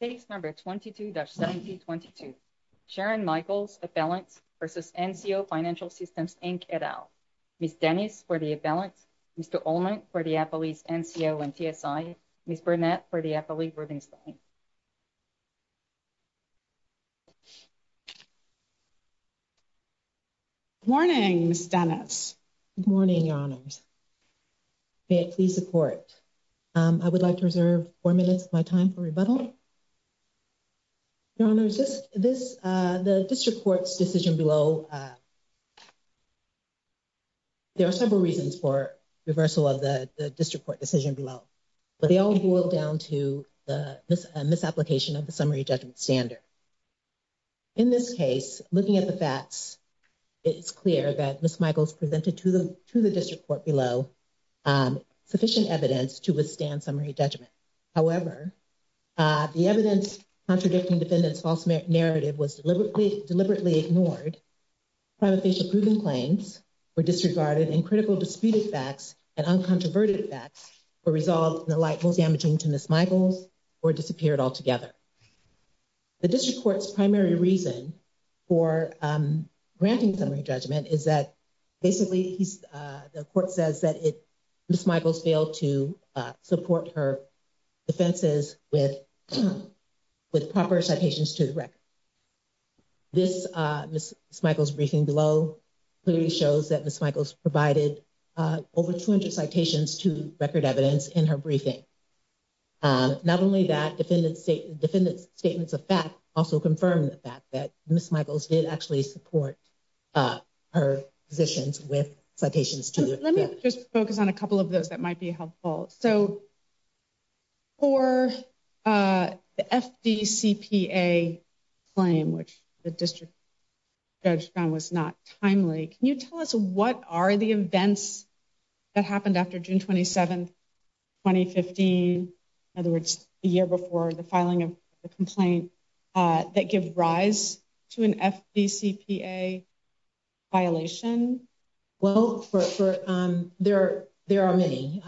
Case number 22-1722, Sharon Michaels, Avalanche v. NCO Financial Systems Inc, et al. Ms. Dennis for the Avalanche, Mr. Olmert for the Appalachian NCO and TSI, Ms. Burnett for the Appalachian Rubinstein. Good morning, Ms. Dennis. Good morning, Your Honors. May it please the Court, I would like to reserve four minutes of my time for rebuttal. Your Honors, the District Court's decision below, there are several reasons for reversal of the District Court decision below. But they all boil down to a misapplication of the summary judgment standard. In this case, looking at the facts, it's clear that Ms. Michaels presented to the District Court below sufficient evidence to withstand summary judgment. However, the evidence contradicting defendant's false narrative was deliberately ignored. Prima facie proven claims were disregarded and critical disputed facts and uncontroverted facts were resolved in the light most damaging to Ms. Michaels or disappeared altogether. The District Court's primary reason for granting summary judgment is that basically the Court says that Ms. Michaels failed to support her defenses with proper citations to the record. Ms. Michaels' briefing below clearly shows that Ms. Michaels provided over 200 citations to record evidence in her briefing. Not only that, defendant's statements of fact also confirm the fact that Ms. Michaels did actually support her positions with citations to the record. Let me just focus on a couple of those that might be helpful. So for the FDCPA claim, which the District Judge found was not timely, can you tell us what are the events that happened after June 27, 2015? In other words, the year before the filing of the complaint that give rise to an FDCPA violation? Well, there are many.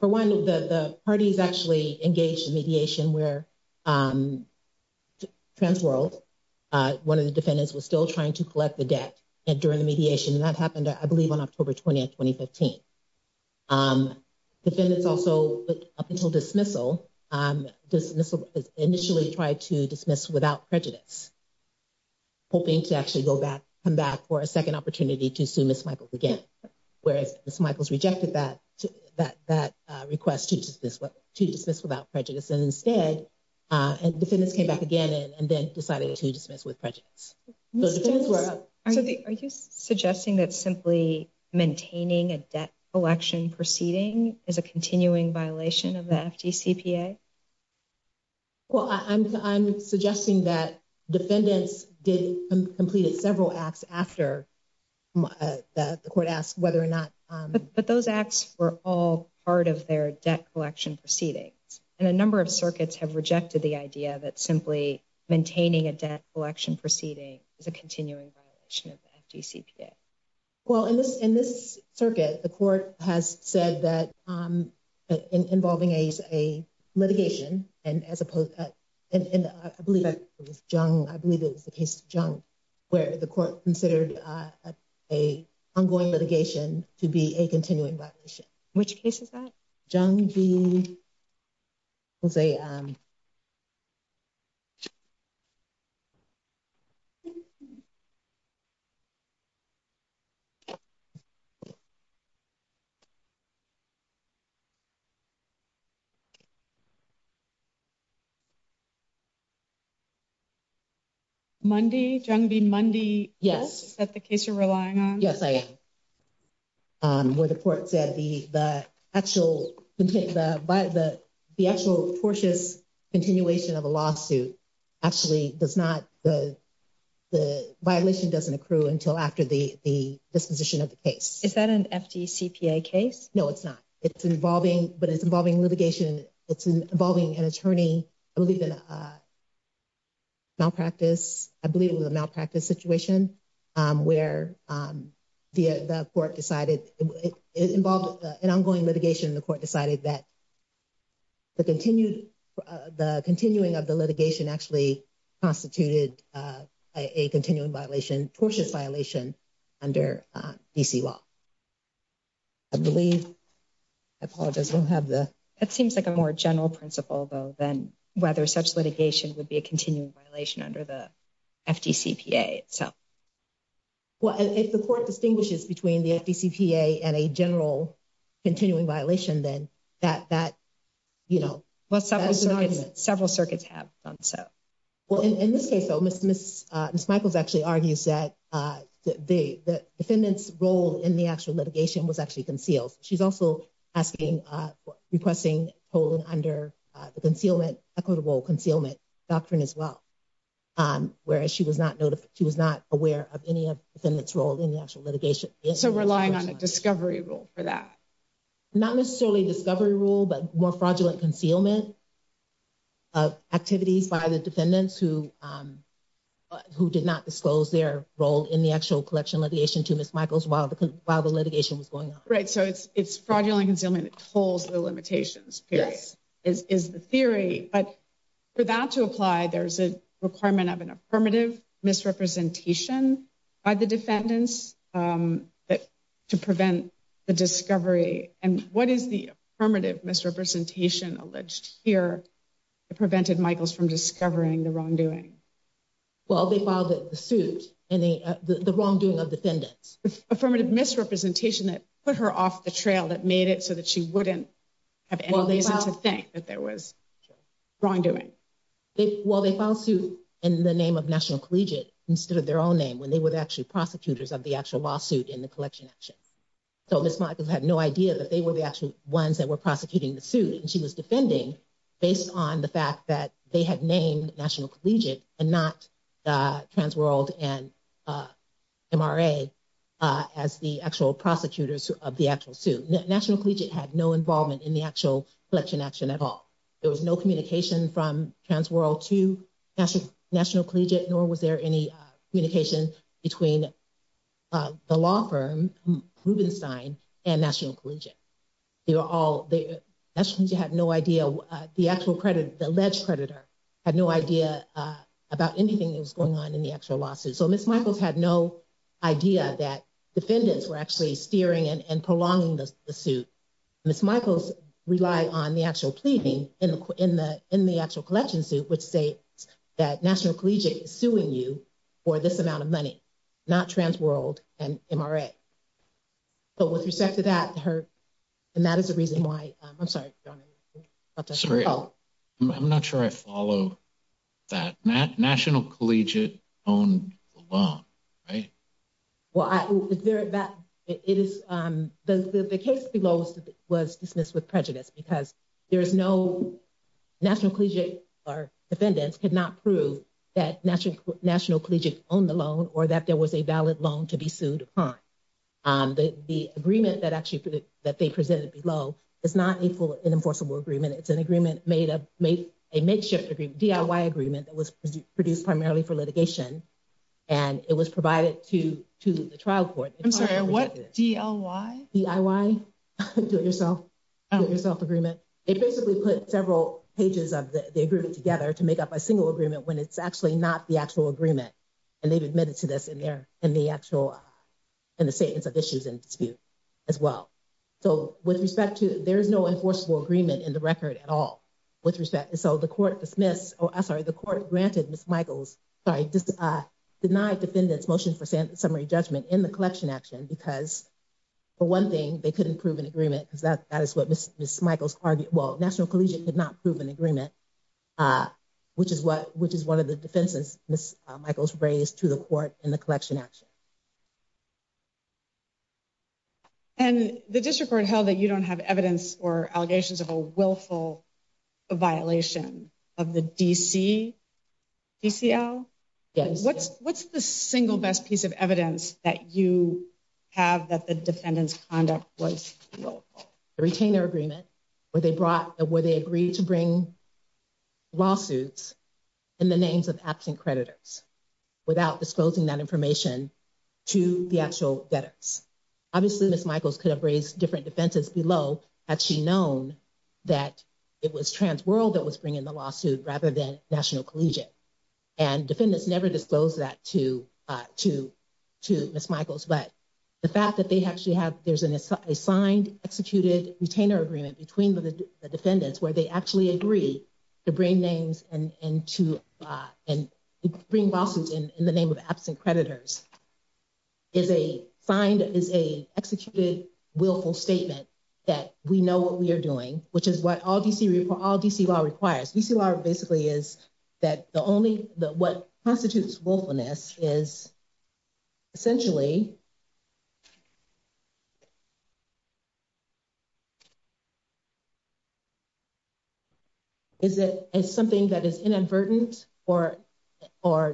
For one, the parties actually engaged in mediation where Transworld, one of the defendants, was still trying to collect the debt during the mediation. And that happened, I believe, on October 20, 2015. Defendants also, up until dismissal, initially tried to dismiss without prejudice, hoping to actually go back, come back for a second opportunity to sue Ms. Michaels again. Whereas Ms. Michaels rejected that request to dismiss without prejudice. And instead, defendants came back again and then decided to dismiss with prejudice. Are you suggesting that simply maintaining a debt collection proceeding is a continuing violation of the FDCPA? Well, I'm suggesting that defendants did complete several acts after the court asked whether or not... But those acts were all part of their debt collection proceedings. And a number of circuits have rejected the idea that simply maintaining a debt collection proceeding is a continuing violation of the FDCPA. Well, in this circuit, the court has said that involving a litigation, and I believe it was the case of Jung, where the court considered an ongoing litigation to be a continuing violation. Which case is that? Jung v. Jose. Mundy, Jung v. Mundy? Yes. Is that the case you're relying on? Yes, I am. Where the court said the actual, the actual tortuous continuation of a lawsuit actually does not, the violation doesn't accrue until after the disposition of the case. Is that an FDCPA case? No, it's not. It's involving, but it's involving litigation. It's involving an attorney, I believe in a malpractice, I believe it was a malpractice situation where the court decided, it involved an ongoing litigation. The court decided that the continued, the continuing of the litigation actually constituted a continuing violation, tortuous violation under D.C. law. I believe, I apologize, we'll have the... That seems like a more general principle, though, than whether such litigation would be a continuing violation under the FDCPA itself. Well, if the court distinguishes between the FDCPA and a general continuing violation, then that, you know... Well, several circuits have done so. Well, in this case, though, Ms. Michaels actually argues that the defendant's role in the actual litigation was actually concealed. She's also asking, requesting, holding under the concealment, equitable concealment doctrine as well, whereas she was not aware of any of the defendant's role in the actual litigation. So relying on a discovery rule for that? Not necessarily a discovery rule, but more fraudulent concealment of activities by the defendants who did not disclose their role in the actual collection litigation to Ms. Michaels while the litigation was going on. Right, so it's fraudulent concealment that holds the limitations, is the theory. But for that to apply, there's a requirement of an affirmative misrepresentation by the defendants to prevent the discovery. And what is the affirmative misrepresentation alleged here that prevented Michaels from discovering the wrongdoing? Well, they filed a suit in the wrongdoing of defendants. Affirmative misrepresentation that put her off the trail that made it so that she wouldn't have any reason to think that there was wrongdoing. Well, they filed suit in the name of National Collegiate instead of their own name when they were actually prosecutors of the actual lawsuit in the collection action. So Ms. Michaels had no idea that they were the actual ones that were prosecuting the suit. And she was defending based on the fact that they had named National Collegiate and not Transworld and MRA as the actual prosecutors of the actual suit. National Collegiate had no involvement in the actual collection action at all. There was no communication from Transworld to National Collegiate, nor was there any communication between the law firm Rubenstein and National Collegiate. National Collegiate had no idea, the alleged creditor had no idea about anything that was going on in the actual lawsuit. So Ms. Michaels had no idea that defendants were actually steering and prolonging the suit. Ms. Michaels relied on the actual pleading in the actual collection suit which states that National Collegiate is suing you for this amount of money, not Transworld and MRA. But with respect to that, her – and that is the reason why – I'm sorry, John. Sorry, I'm not sure I follow that. National Collegiate owned the law, right? Well, it is – the case below was dismissed with prejudice because there is no – National Collegiate or defendants could not prove that National Collegiate owned the loan or that there was a valid loan to be sued upon. The agreement that actually – that they presented below is not an enforceable agreement. It's an agreement made of – a makeshift agreement, DIY agreement that was produced primarily for litigation. And it was provided to the trial court. I'm sorry, what, DIY? DIY, do-it-yourself, do-it-yourself agreement. They basically put several pages of the agreement together to make up a single agreement when it's actually not the actual agreement. And they've admitted to this in their – in the actual – in the Statements of Issues and Dispute as well. So with respect to – there is no enforceable agreement in the record at all. With respect – so the court dismissed – oh, I'm sorry, the court granted Ms. Michaels – sorry, denied defendants' motion for summary judgment in the collection action because, for one thing, they couldn't prove an agreement because that is what Ms. Michaels argued – well, National Collegiate could not prove an agreement, which is what – which is one of the defenses Ms. Michaels raised to the court in the collection action. And the district court held that you don't have evidence or allegations of a willful violation of the DC – DCL? Yes. What's the single best piece of evidence that you have that the defendant's conduct was willful? The retainer agreement where they brought – where they agreed to bring lawsuits in the names of absent creditors without disclosing that information to the actual debtors. Obviously, Ms. Michaels could have raised different defenses below had she known that it was Trans World that was bringing the lawsuit rather than National Collegiate. And defendants never disclosed that to Ms. Michaels. But the fact that they actually have – there's an assigned, executed retainer agreement between the defendants where they actually agree to bring names and to – and bring lawsuits in the name of absent creditors is a – signed is a executed willful statement that we know what we are doing, which is what all DC – all DC law requires. DC law basically is that the only – what constitutes willfulness is essentially – is something that is inadvertent or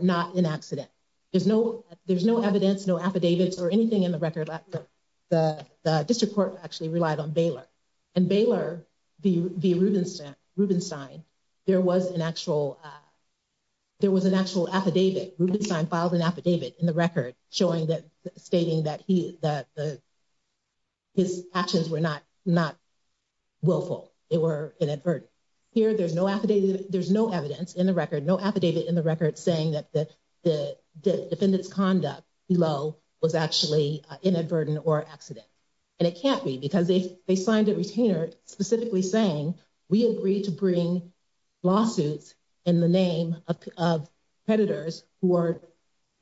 not an accident. There's no – there's no evidence, no affidavits or anything in the record that the district court actually relied on Baylor. And Baylor, via Rubenstein, there was an actual – there was an actual affidavit. Rubenstein filed an affidavit in the record showing that – stating that he – that his actions were not willful. They were inadvertent. Here there's no affidavit – there's no evidence in the record, no affidavit in the record saying that the defendant's conduct below was actually inadvertent or accident. And it can't be because they signed a retainer specifically saying we agree to bring lawsuits in the name of creditors who are,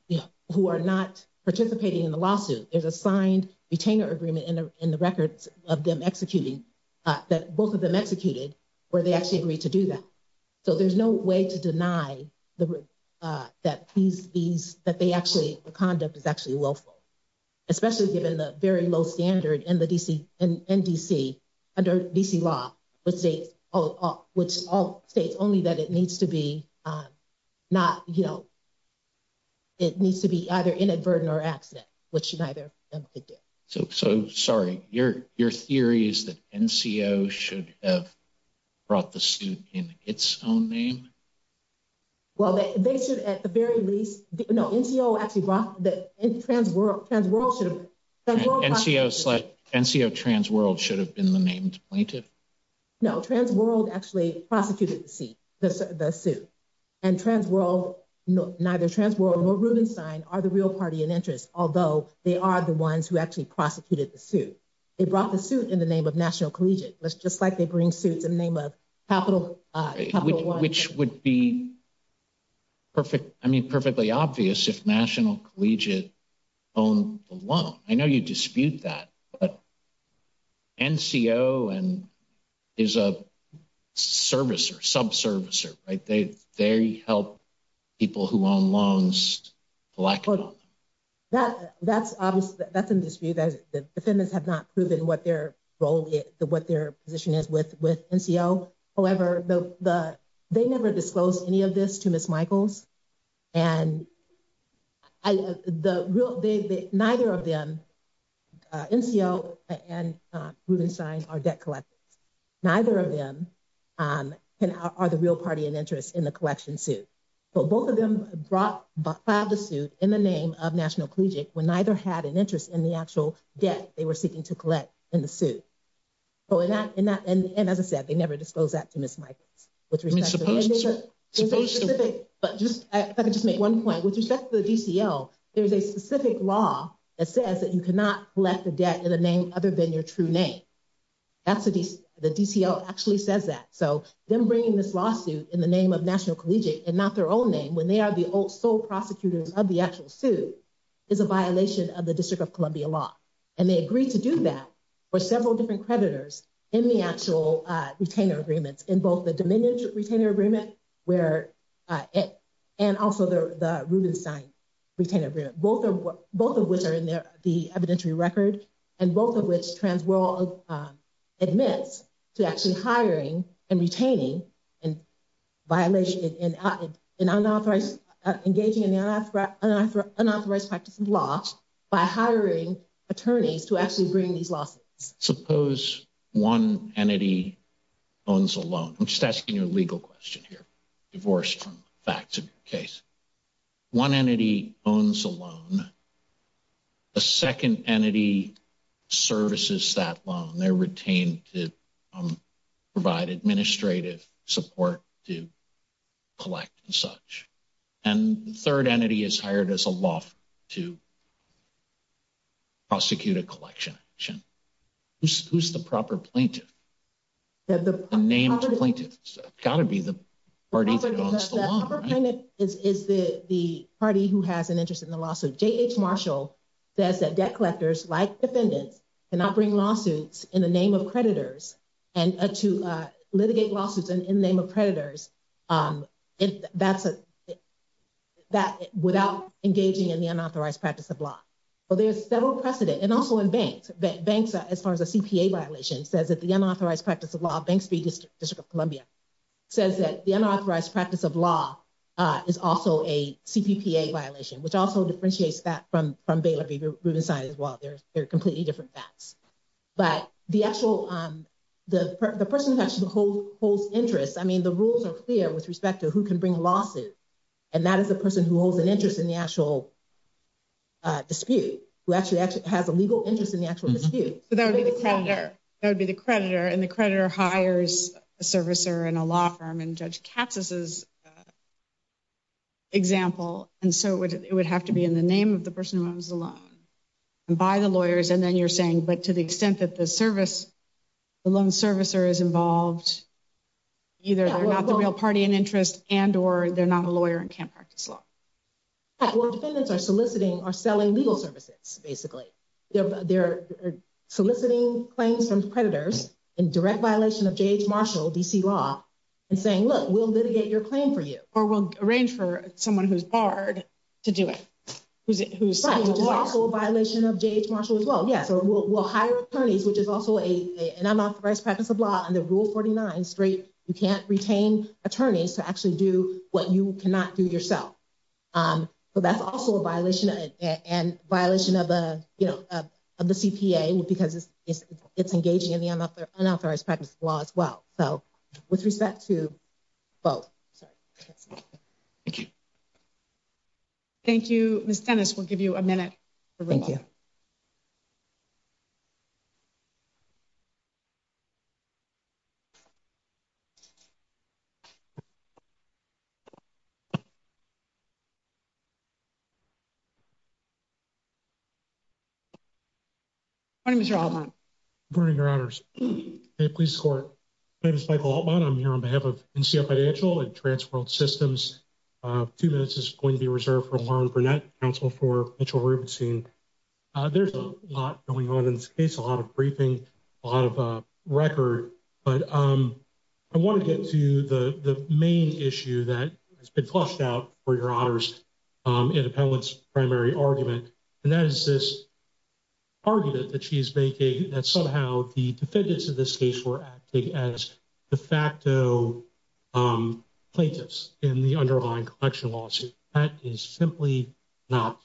you know, who are not participating in the lawsuit. There's a signed retainer agreement in the records of them executing – that both of them executed where they actually agreed to do that. So there's no way to deny the – that these – that they actually – the conduct is actually willful, especially given the very low standard in the D.C. – in D.C. Under D.C. law, which states – which states only that it needs to be not, you know – it needs to be either inadvertent or accident, which neither of them could do. So, sorry, your theory is that NCO should have brought the suit in its own name? Well, they should at the very least – no, NCO actually brought the – Transworld should have – NCO Transworld should have been the named plaintiff? No, Transworld actually prosecuted the suit. And Transworld – neither Transworld nor Rubenstein are the real party in interest, although they are the ones who actually prosecuted the suit. They brought the suit in the name of National Collegiate, just like they bring suits in the name of Capital One. Which would be perfect – I mean, perfectly obvious if National Collegiate owned the loan. I know you dispute that, but NCO is a servicer, subservicer, right? They help people who own loans blackmail them. That's obviously – that's in dispute. The defendants have not proven what their role is – what their position is with NCO. However, they never disclosed any of this to Ms. Michaels. And the real – neither of them, NCO and Rubenstein, are debt collectors. Neither of them are the real party in interest in the collection suit. But both of them brought – filed the suit in the name of National Collegiate when neither had an interest in the actual debt they were seeking to collect in the suit. And as I said, they never disclosed that to Ms. Michaels. And there's a specific – if I could just make one point. With respect to the DCL, there's a specific law that says that you cannot collect a debt in a name other than your true name. The DCL actually says that. So them bringing this lawsuit in the name of National Collegiate and not their own name when they are the sole prosecutors of the actual suit is a violation of the District of Columbia law. And they agreed to do that for several different creditors in the actual retainer agreements, in both the Dominion retainer agreement where – and also the Rubenstein retainer agreement. Both of which are in the evidentiary record and both of which TransWorld admits to actually hiring and retaining and violation – in unauthorized – engaging in the unauthorized practice of the law by hiring attorneys to actually bring these lawsuits. Suppose one entity owns a loan. I'm just asking you a legal question here, divorced from the facts of your case. One entity owns a loan. A second entity services that loan. They're retained to provide administrative support to collect and such. And the third entity is hired as a law firm to prosecute a collection action. Who's the proper plaintiff? The name of the plaintiff has got to be the party that owns the loan. The proper plaintiff is the party who has an interest in the lawsuit. J.H. Marshall says that debt collectors, like defendants, cannot bring lawsuits in the name of creditors and to litigate lawsuits in the name of creditors without engaging in the unauthorized practice of law. Well, there's several precedent, and also in banks. Banks, as far as a CPA violation, says that the unauthorized practice of law – Banks v. District of Columbia – says that the unauthorized practice of law is also a CPPA violation, which also differentiates that from Baylor v. Rubenstein as well. They're completely different facts. But the actual – the person who actually holds interest – I mean, the rules are clear with respect to who can bring lawsuits. And that is the person who holds an interest in the actual dispute, who actually has a legal interest in the actual dispute. So that would be the creditor. That would be the creditor. And the creditor hires a servicer in a law firm, in Judge Katz's example. And so it would have to be in the name of the person who owns the loan. And by the lawyers, and then you're saying, but to the extent that the loan servicer is involved, either they're not the real party in interest and or they're not a lawyer and can't practice law. Well, defendants are soliciting or selling legal services, basically. They're soliciting claims from creditors in direct violation of J.H. Marshall, D.C. law, and saying, look, we'll litigate your claim for you. Or we'll arrange for someone who's barred to do it. Which is also a violation of J.H. Marshall as well. Yeah, so we'll hire attorneys, which is also an unauthorized practice of law under Rule 49. You can't retain attorneys to actually do what you cannot do yourself. But that's also a violation and violation of the CPA because it's engaging in the unauthorized practice of law as well. So with respect to both. Thank you. Thank you. Miss Dennis, we'll give you a minute. Thank you. Morning, Mr. Altman. Good morning, Your Honors. Please score. My name is Michael Altman. I'm here on behalf of NCO Financial and Transworld Systems. Two minutes is going to be reserved for Lauren Burnett, counsel for Mitchell Rubenstein. There's a lot going on in this case, a lot of briefing, a lot of record. But I want to get to the main issue that has been flushed out for Your Honors. And that is this argument that she is making that somehow the defendants in this case were acting as de facto plaintiffs in the underlying collection lawsuit. That is simply not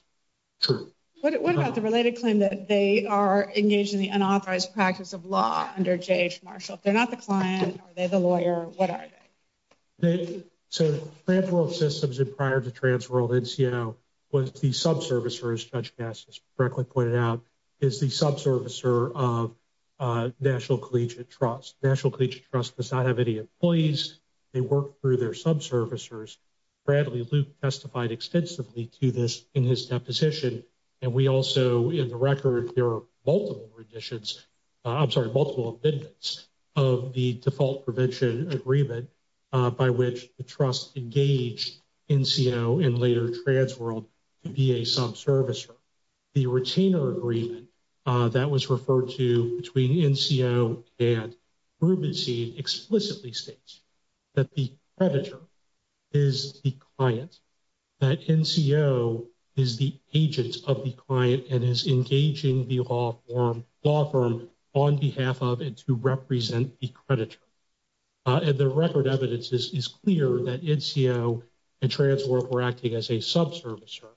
true. What about the related claim that they are engaged in the unauthorized practice of law under J.H. Marshall? If they're not the client, are they the lawyer? What are they? So Transworld Systems prior to Transworld NCO was the subservicer, as Judge Bassett correctly pointed out, is the subservicer of National Collegiate Trust. National Collegiate Trust does not have any employees. They work through their subservicers. Bradley Luke testified extensively to this in his deposition. And we also, in the record, there are multiple additions, I'm sorry, multiple amendments of the default prevention agreement by which the trust engaged NCO and later Transworld to be a subservicer. The retainer agreement that was referred to between NCO and Rubenstein explicitly states that the creditor is the client. That NCO is the agent of the client and is engaging the law firm on behalf of and to represent the creditor. And the record evidence is clear that NCO and Transworld were acting as a subservicer.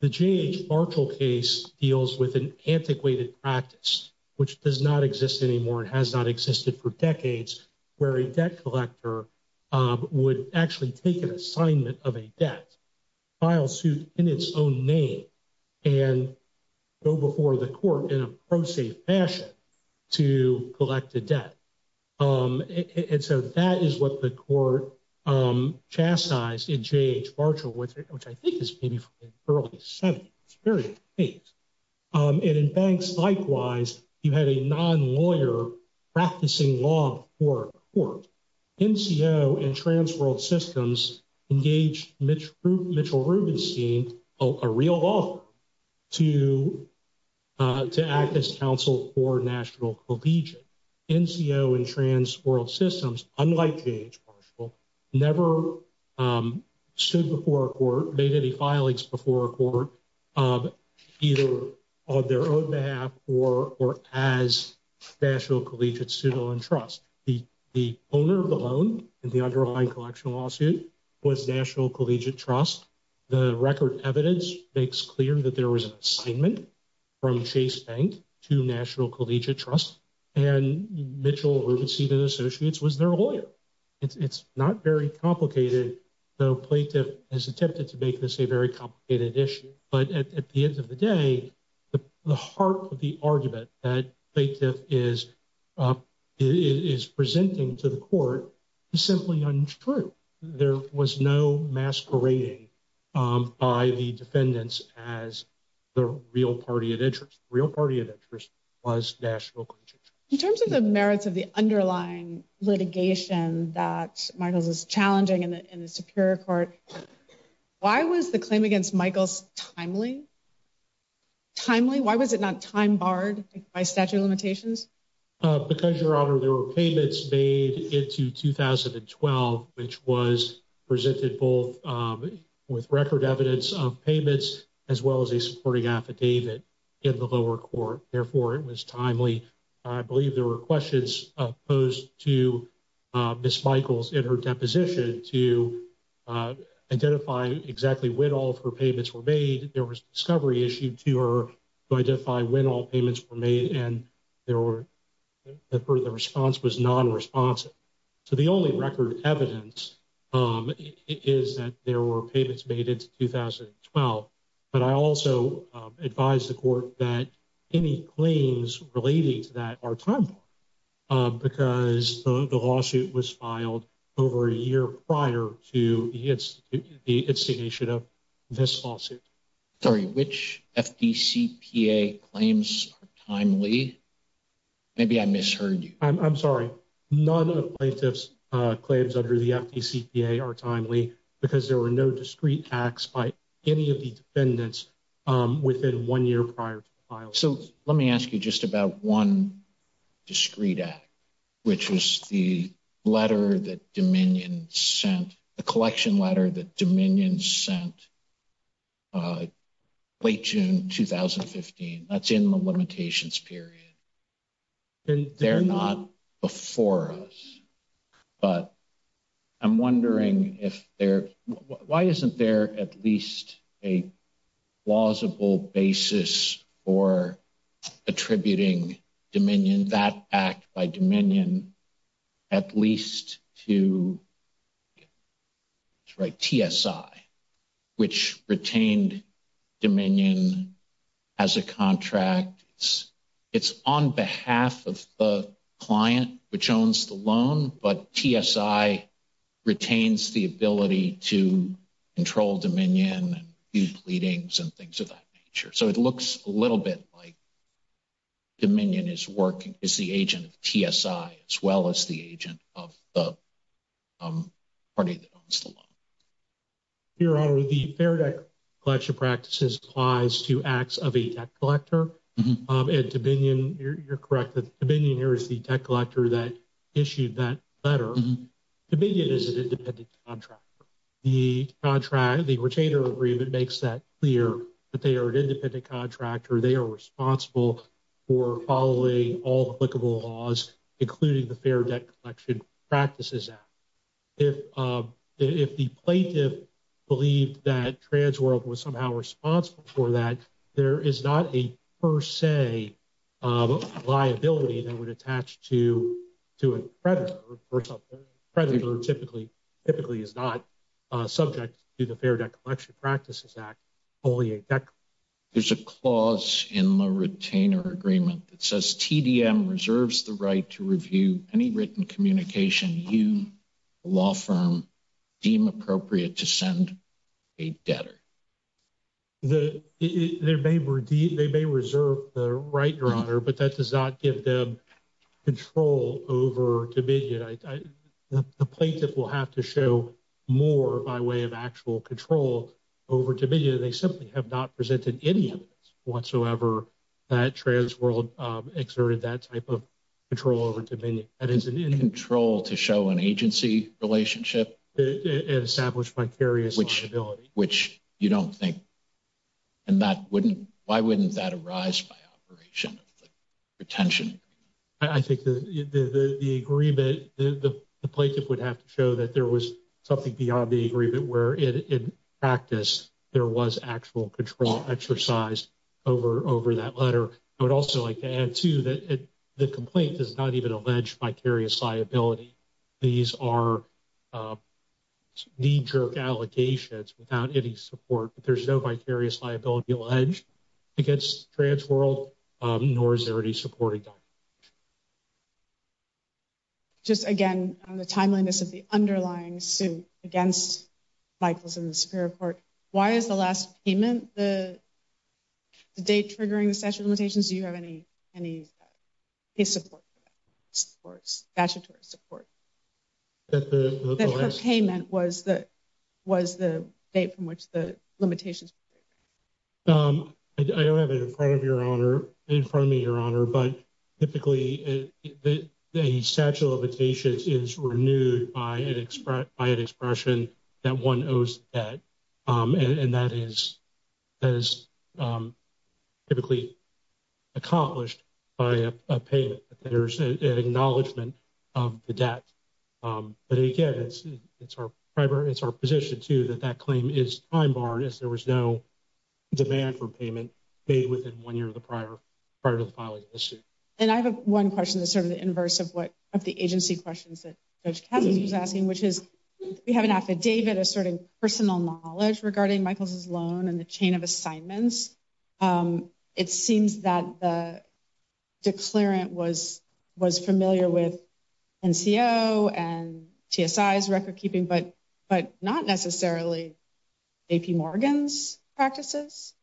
The J.H. Marshall case deals with an antiquated practice, which does not exist anymore and has not existed for decades, where a debt collector would actually take an assignment of a debt, file suit in its own name, and go before the court in a pro-safe fashion to collect a debt. And so that is what the court chastised in J.H. Marshall, which I think is maybe from the early 70s, early 80s. And in Banks, likewise, you had a non-lawyer practicing law for a court. NCO and Transworld Systems engaged Mitchell Rubenstein, a real law firm, to act as counsel for National Collegiate. NCO and Transworld Systems, unlike J.H. Marshall, never stood before a court, made any filings before a court, either on their own behalf or as National Collegiate Student Loan Trust. The owner of the loan in the underlying collection lawsuit was National Collegiate Trust. The record evidence makes clear that there was an assignment from Chase Bank to National Collegiate Trust, and Mitchell Rubenstein and Associates was their lawyer. It's not very complicated, though Plaintiff has attempted to make this a very complicated issue. But at the end of the day, the heart of the argument that Plaintiff is presenting to the court is simply untrue. There was no masquerading by the defendants as the real party of interest. The real party of interest was National Collegiate Trust. In terms of the merits of the underlying litigation that Michaels is challenging in the Superior Court, why was the claim against Michaels timely? Timely? Why was it not time barred by statute of limitations? Because, Your Honor, there were payments made into 2012, which was presented both with record evidence of payments as well as a supporting affidavit in the lower court. Therefore, it was timely. I believe there were questions posed to Ms. Michaels in her deposition to identify exactly when all of her payments were made. There was a discovery issued to her to identify when all payments were made, and the response was non-responsive. So the only record evidence is that there were payments made into 2012. But I also advise the court that any claims relating to that are time barred because the lawsuit was filed over a year prior to the instigation of this lawsuit. Sorry, which FDCPA claims are timely? Maybe I misheard you. I'm sorry. None of the plaintiff's claims under the FDCPA are timely because there were no discrete acts by any of the defendants within one year prior to the filing. So let me ask you just about one discrete act, which was the letter that Dominion sent, the collection letter that Dominion sent late June 2015. That's in the limitations period. They're not before us, but I'm wondering why isn't there at least a plausible basis for attributing Dominion, that act by Dominion, at least to TSI, which retained Dominion as a contract. It's on behalf of the client which owns the loan, but TSI retains the ability to control Dominion and due pleadings and things of that nature. So it looks a little bit like Dominion is the agent of TSI as well as the agent of the party that owns the loan. Your Honor, the Fair Debt Collection Practices applies to acts of a debt collector. And Dominion, you're correct that Dominion here is the debt collector that issued that letter. Dominion is an independent contractor. The contract, the retainer agreement makes that clear that they are an independent contractor. They are responsible for following all applicable laws, including the Fair Debt Collection Practices Act. If the plaintiff believed that Trans World was somehow responsible for that, there is not a per se liability that would attach to a creditor. A creditor typically is not subject to the Fair Debt Collection Practices Act, only a debt collector. There's a clause in the retainer agreement that says TDM reserves the right to review any written communication you, a law firm, deem appropriate to send a debtor. They may reserve the right, Your Honor, but that does not give them control over Dominion. The plaintiff will have to show more by way of actual control over Dominion. They simply have not presented any evidence whatsoever that Trans World exerted that type of control over Dominion. Control to show an agency relationship? And establish vicarious liability. Which you don't think, and that wouldn't, why wouldn't that arise by operation of the retention agreement? I think the agreement, the plaintiff would have to show that there was something beyond the agreement where in practice there was actual control exercised over that letter. I would also like to add, too, that the complaint does not even allege vicarious liability. These are knee-jerk allegations without any support. There's no vicarious liability alleged against Trans World, nor is there any supporting document. Just again, on the timeliness of the underlying suit against Michaels and the Superior Court, why is the last payment, the date triggering the statute of limitations, do you have any support for that? Statutory support. That her payment was the date from which the limitations were triggered. I don't have it in front of me, Your Honor, but typically a statute of limitations is renewed by an expression that one owes a debt. And that is typically accomplished by a payment. There's an acknowledgment of the debt. But again, it's our position, too, that that claim is time-barred as there was no demand for payment made within one year of the prior, prior to the filing of the suit. And I have one question that's sort of the inverse of what, of the agency questions that Judge Cassidy was asking, which is we have an affidavit asserting personal knowledge regarding Michaels' loan and the chain of assignments. It seems that the declarant was familiar with NCO and TSI's record-keeping, but not necessarily J.P. Morgan's practices.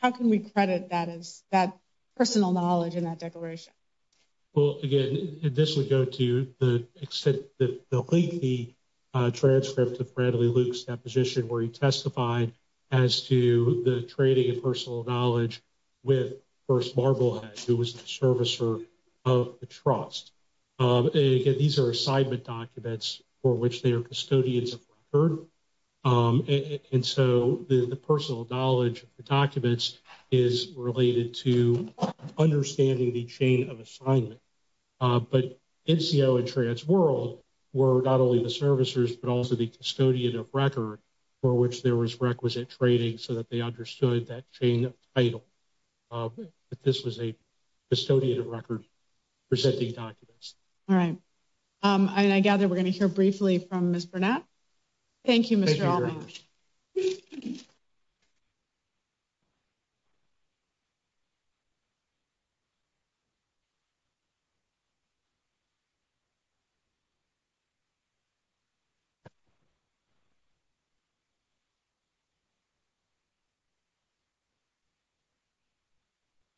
How can we credit that personal knowledge in that declaration? Well, again, this would go to the lengthy transcript of Bradley Luke's deposition where he testified as to the trading of personal knowledge with First Marblehead, who was the servicer of the trust. Again, these are assignment documents for which they are custodians of record. And so the personal knowledge of the documents is related to understanding the chain of assignment. But NCO and TransWorld were not only the servicers, but also the custodian of record for which there was requisite trading so that they understood that chain of title, that this was a custodian of record for sending documents. All right. And I gather we're going to hear briefly from Ms. Burnett. Thank you, Mr. Haldane. Thank you very much.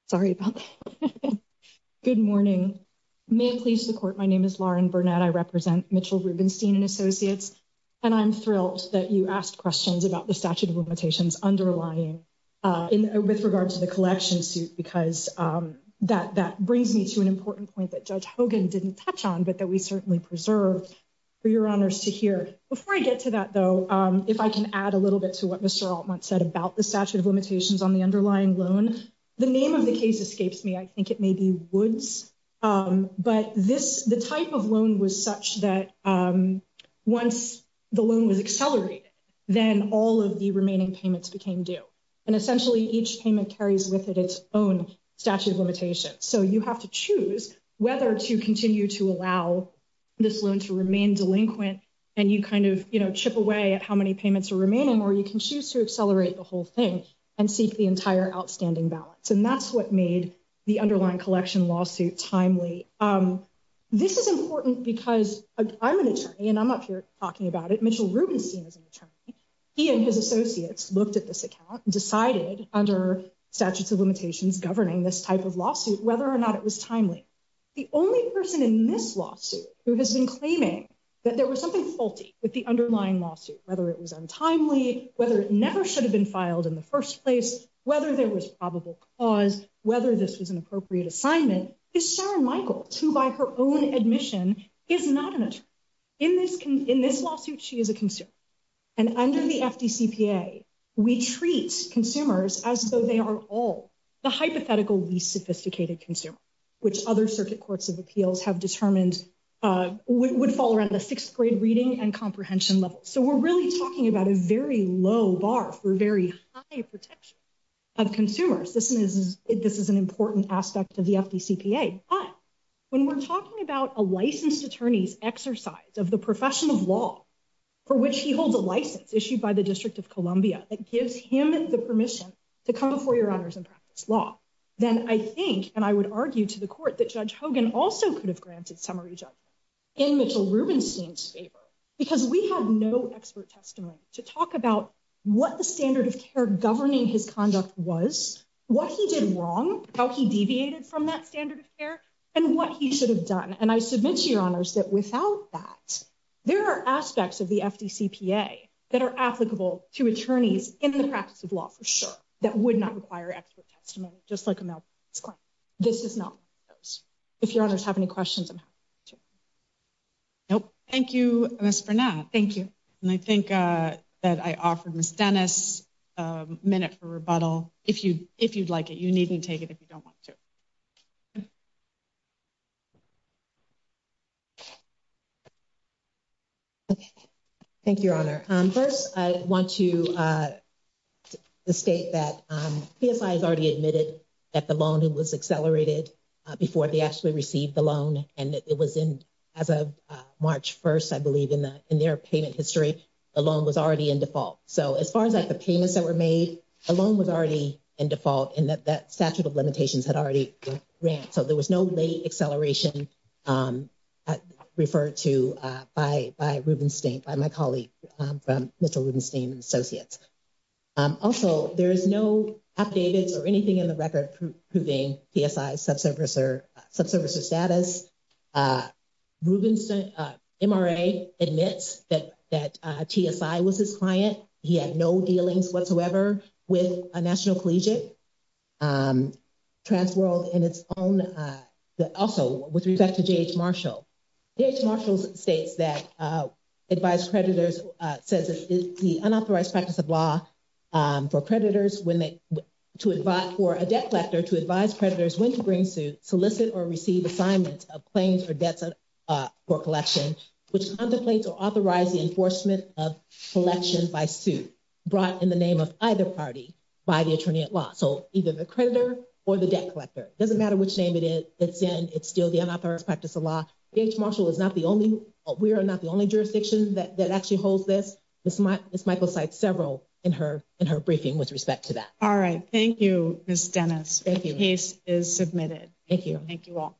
Sorry about that. Good morning. May it please the court. My name is Lauren Burnett. I represent Mitchell Rubenstein & Associates. And I'm thrilled that you asked questions about the statute of limitations underlying with regard to the collection suit. Because that brings me to an important point that Judge Hogan didn't touch on, but that we certainly preserve for your honors to hear. Before I get to that, though, if I can add a little bit to what Mr. Altman said about the statute of limitations on the underlying loan. The name of the case escapes me. I think it may be Woods. But the type of loan was such that once the loan was accelerated, then all of the remaining payments became due. And essentially, each payment carries with it its own statute of limitations. So you have to choose whether to continue to allow this loan to remain delinquent and you kind of chip away at how many payments are remaining. Or you can choose to accelerate the whole thing and seek the entire outstanding balance. And that's what made the underlying collection lawsuit timely. This is important because I'm an attorney and I'm up here talking about it. Mitchell Rubenstein is an attorney. He and his associates looked at this account and decided under statutes of limitations governing this type of lawsuit whether or not it was timely. The only person in this lawsuit who has been claiming that there was something faulty with the underlying lawsuit, whether it was untimely, whether it never should have been filed in the first place, whether there was probable cause, whether this was an appropriate assignment, is Sharon Michaels, who by her own admission is not an attorney. In this lawsuit, she is a consumer. And under the FDCPA, we treat consumers as though they are all the hypothetical least sophisticated consumer, which other circuit courts of appeals have determined would fall around the sixth grade reading and comprehension level. So we're really talking about a very low bar for very high protection of consumers. This is an important aspect of the FDCPA. But when we're talking about a licensed attorney's exercise of the profession of law for which he holds a license issued by the District of Columbia that gives him the permission to come before your honors and practice law, then I think and I would argue to the court that Judge Hogan also could have granted summary judgment in Mitchell Rubenstein's favor. Because we have no expert testimony to talk about what the standard of care governing his conduct was, what he did wrong, how he deviated from that standard of care, and what he should have done. And I submit to your honors that without that, there are aspects of the FDCPA that are applicable to attorneys in the practice of law, for sure, that would not require expert testimony, just like a malpractice claim. This is not one of those. If your honors have any questions, I'm happy to. Nope. Thank you, Ms. Burnett. Thank you. And I think that I offered Ms. Dennis a minute for rebuttal. If you if you'd like it, you need to take it if you don't want to. Thank you, Your Honor. First, I want to state that PSI has already admitted that the loan was accelerated before they actually received the loan. And it was in as of March 1st, I believe, in their payment history, the loan was already in default. So as far as like the payments that were made, the loan was already in default and that statute of limitations had already ran. So there was no late acceleration referred to by Rubenstein, by my colleague from Mr. Rubenstein and Associates. Also, there is no affidavits or anything in the record proving PSI subservicer status. Rubenstein MRA admits that that TSI was his client. He had no dealings whatsoever with a national collegiate. Transworld in its own also with respect to J.H. Marshall. J.H. Marshall states that advised creditors says the unauthorized practice of law for creditors when they to advise for a debt collector to advise creditors when to bring suit, solicit or receive assignments of claims or debts for collection, which contemplates or authorize the enforcement of collection by suit brought in the name of either party by the attorney at law. So either the creditor or the debt collector. It doesn't matter which name it's in. It's still the unauthorized practice of law. J.H. Marshall is not the only, we are not the only jurisdiction that actually holds this. Ms. Michaels cites several in her briefing with respect to that. All right. Thank you, Ms. Dennis. Thank you. The case is submitted. Thank you. Thank you all.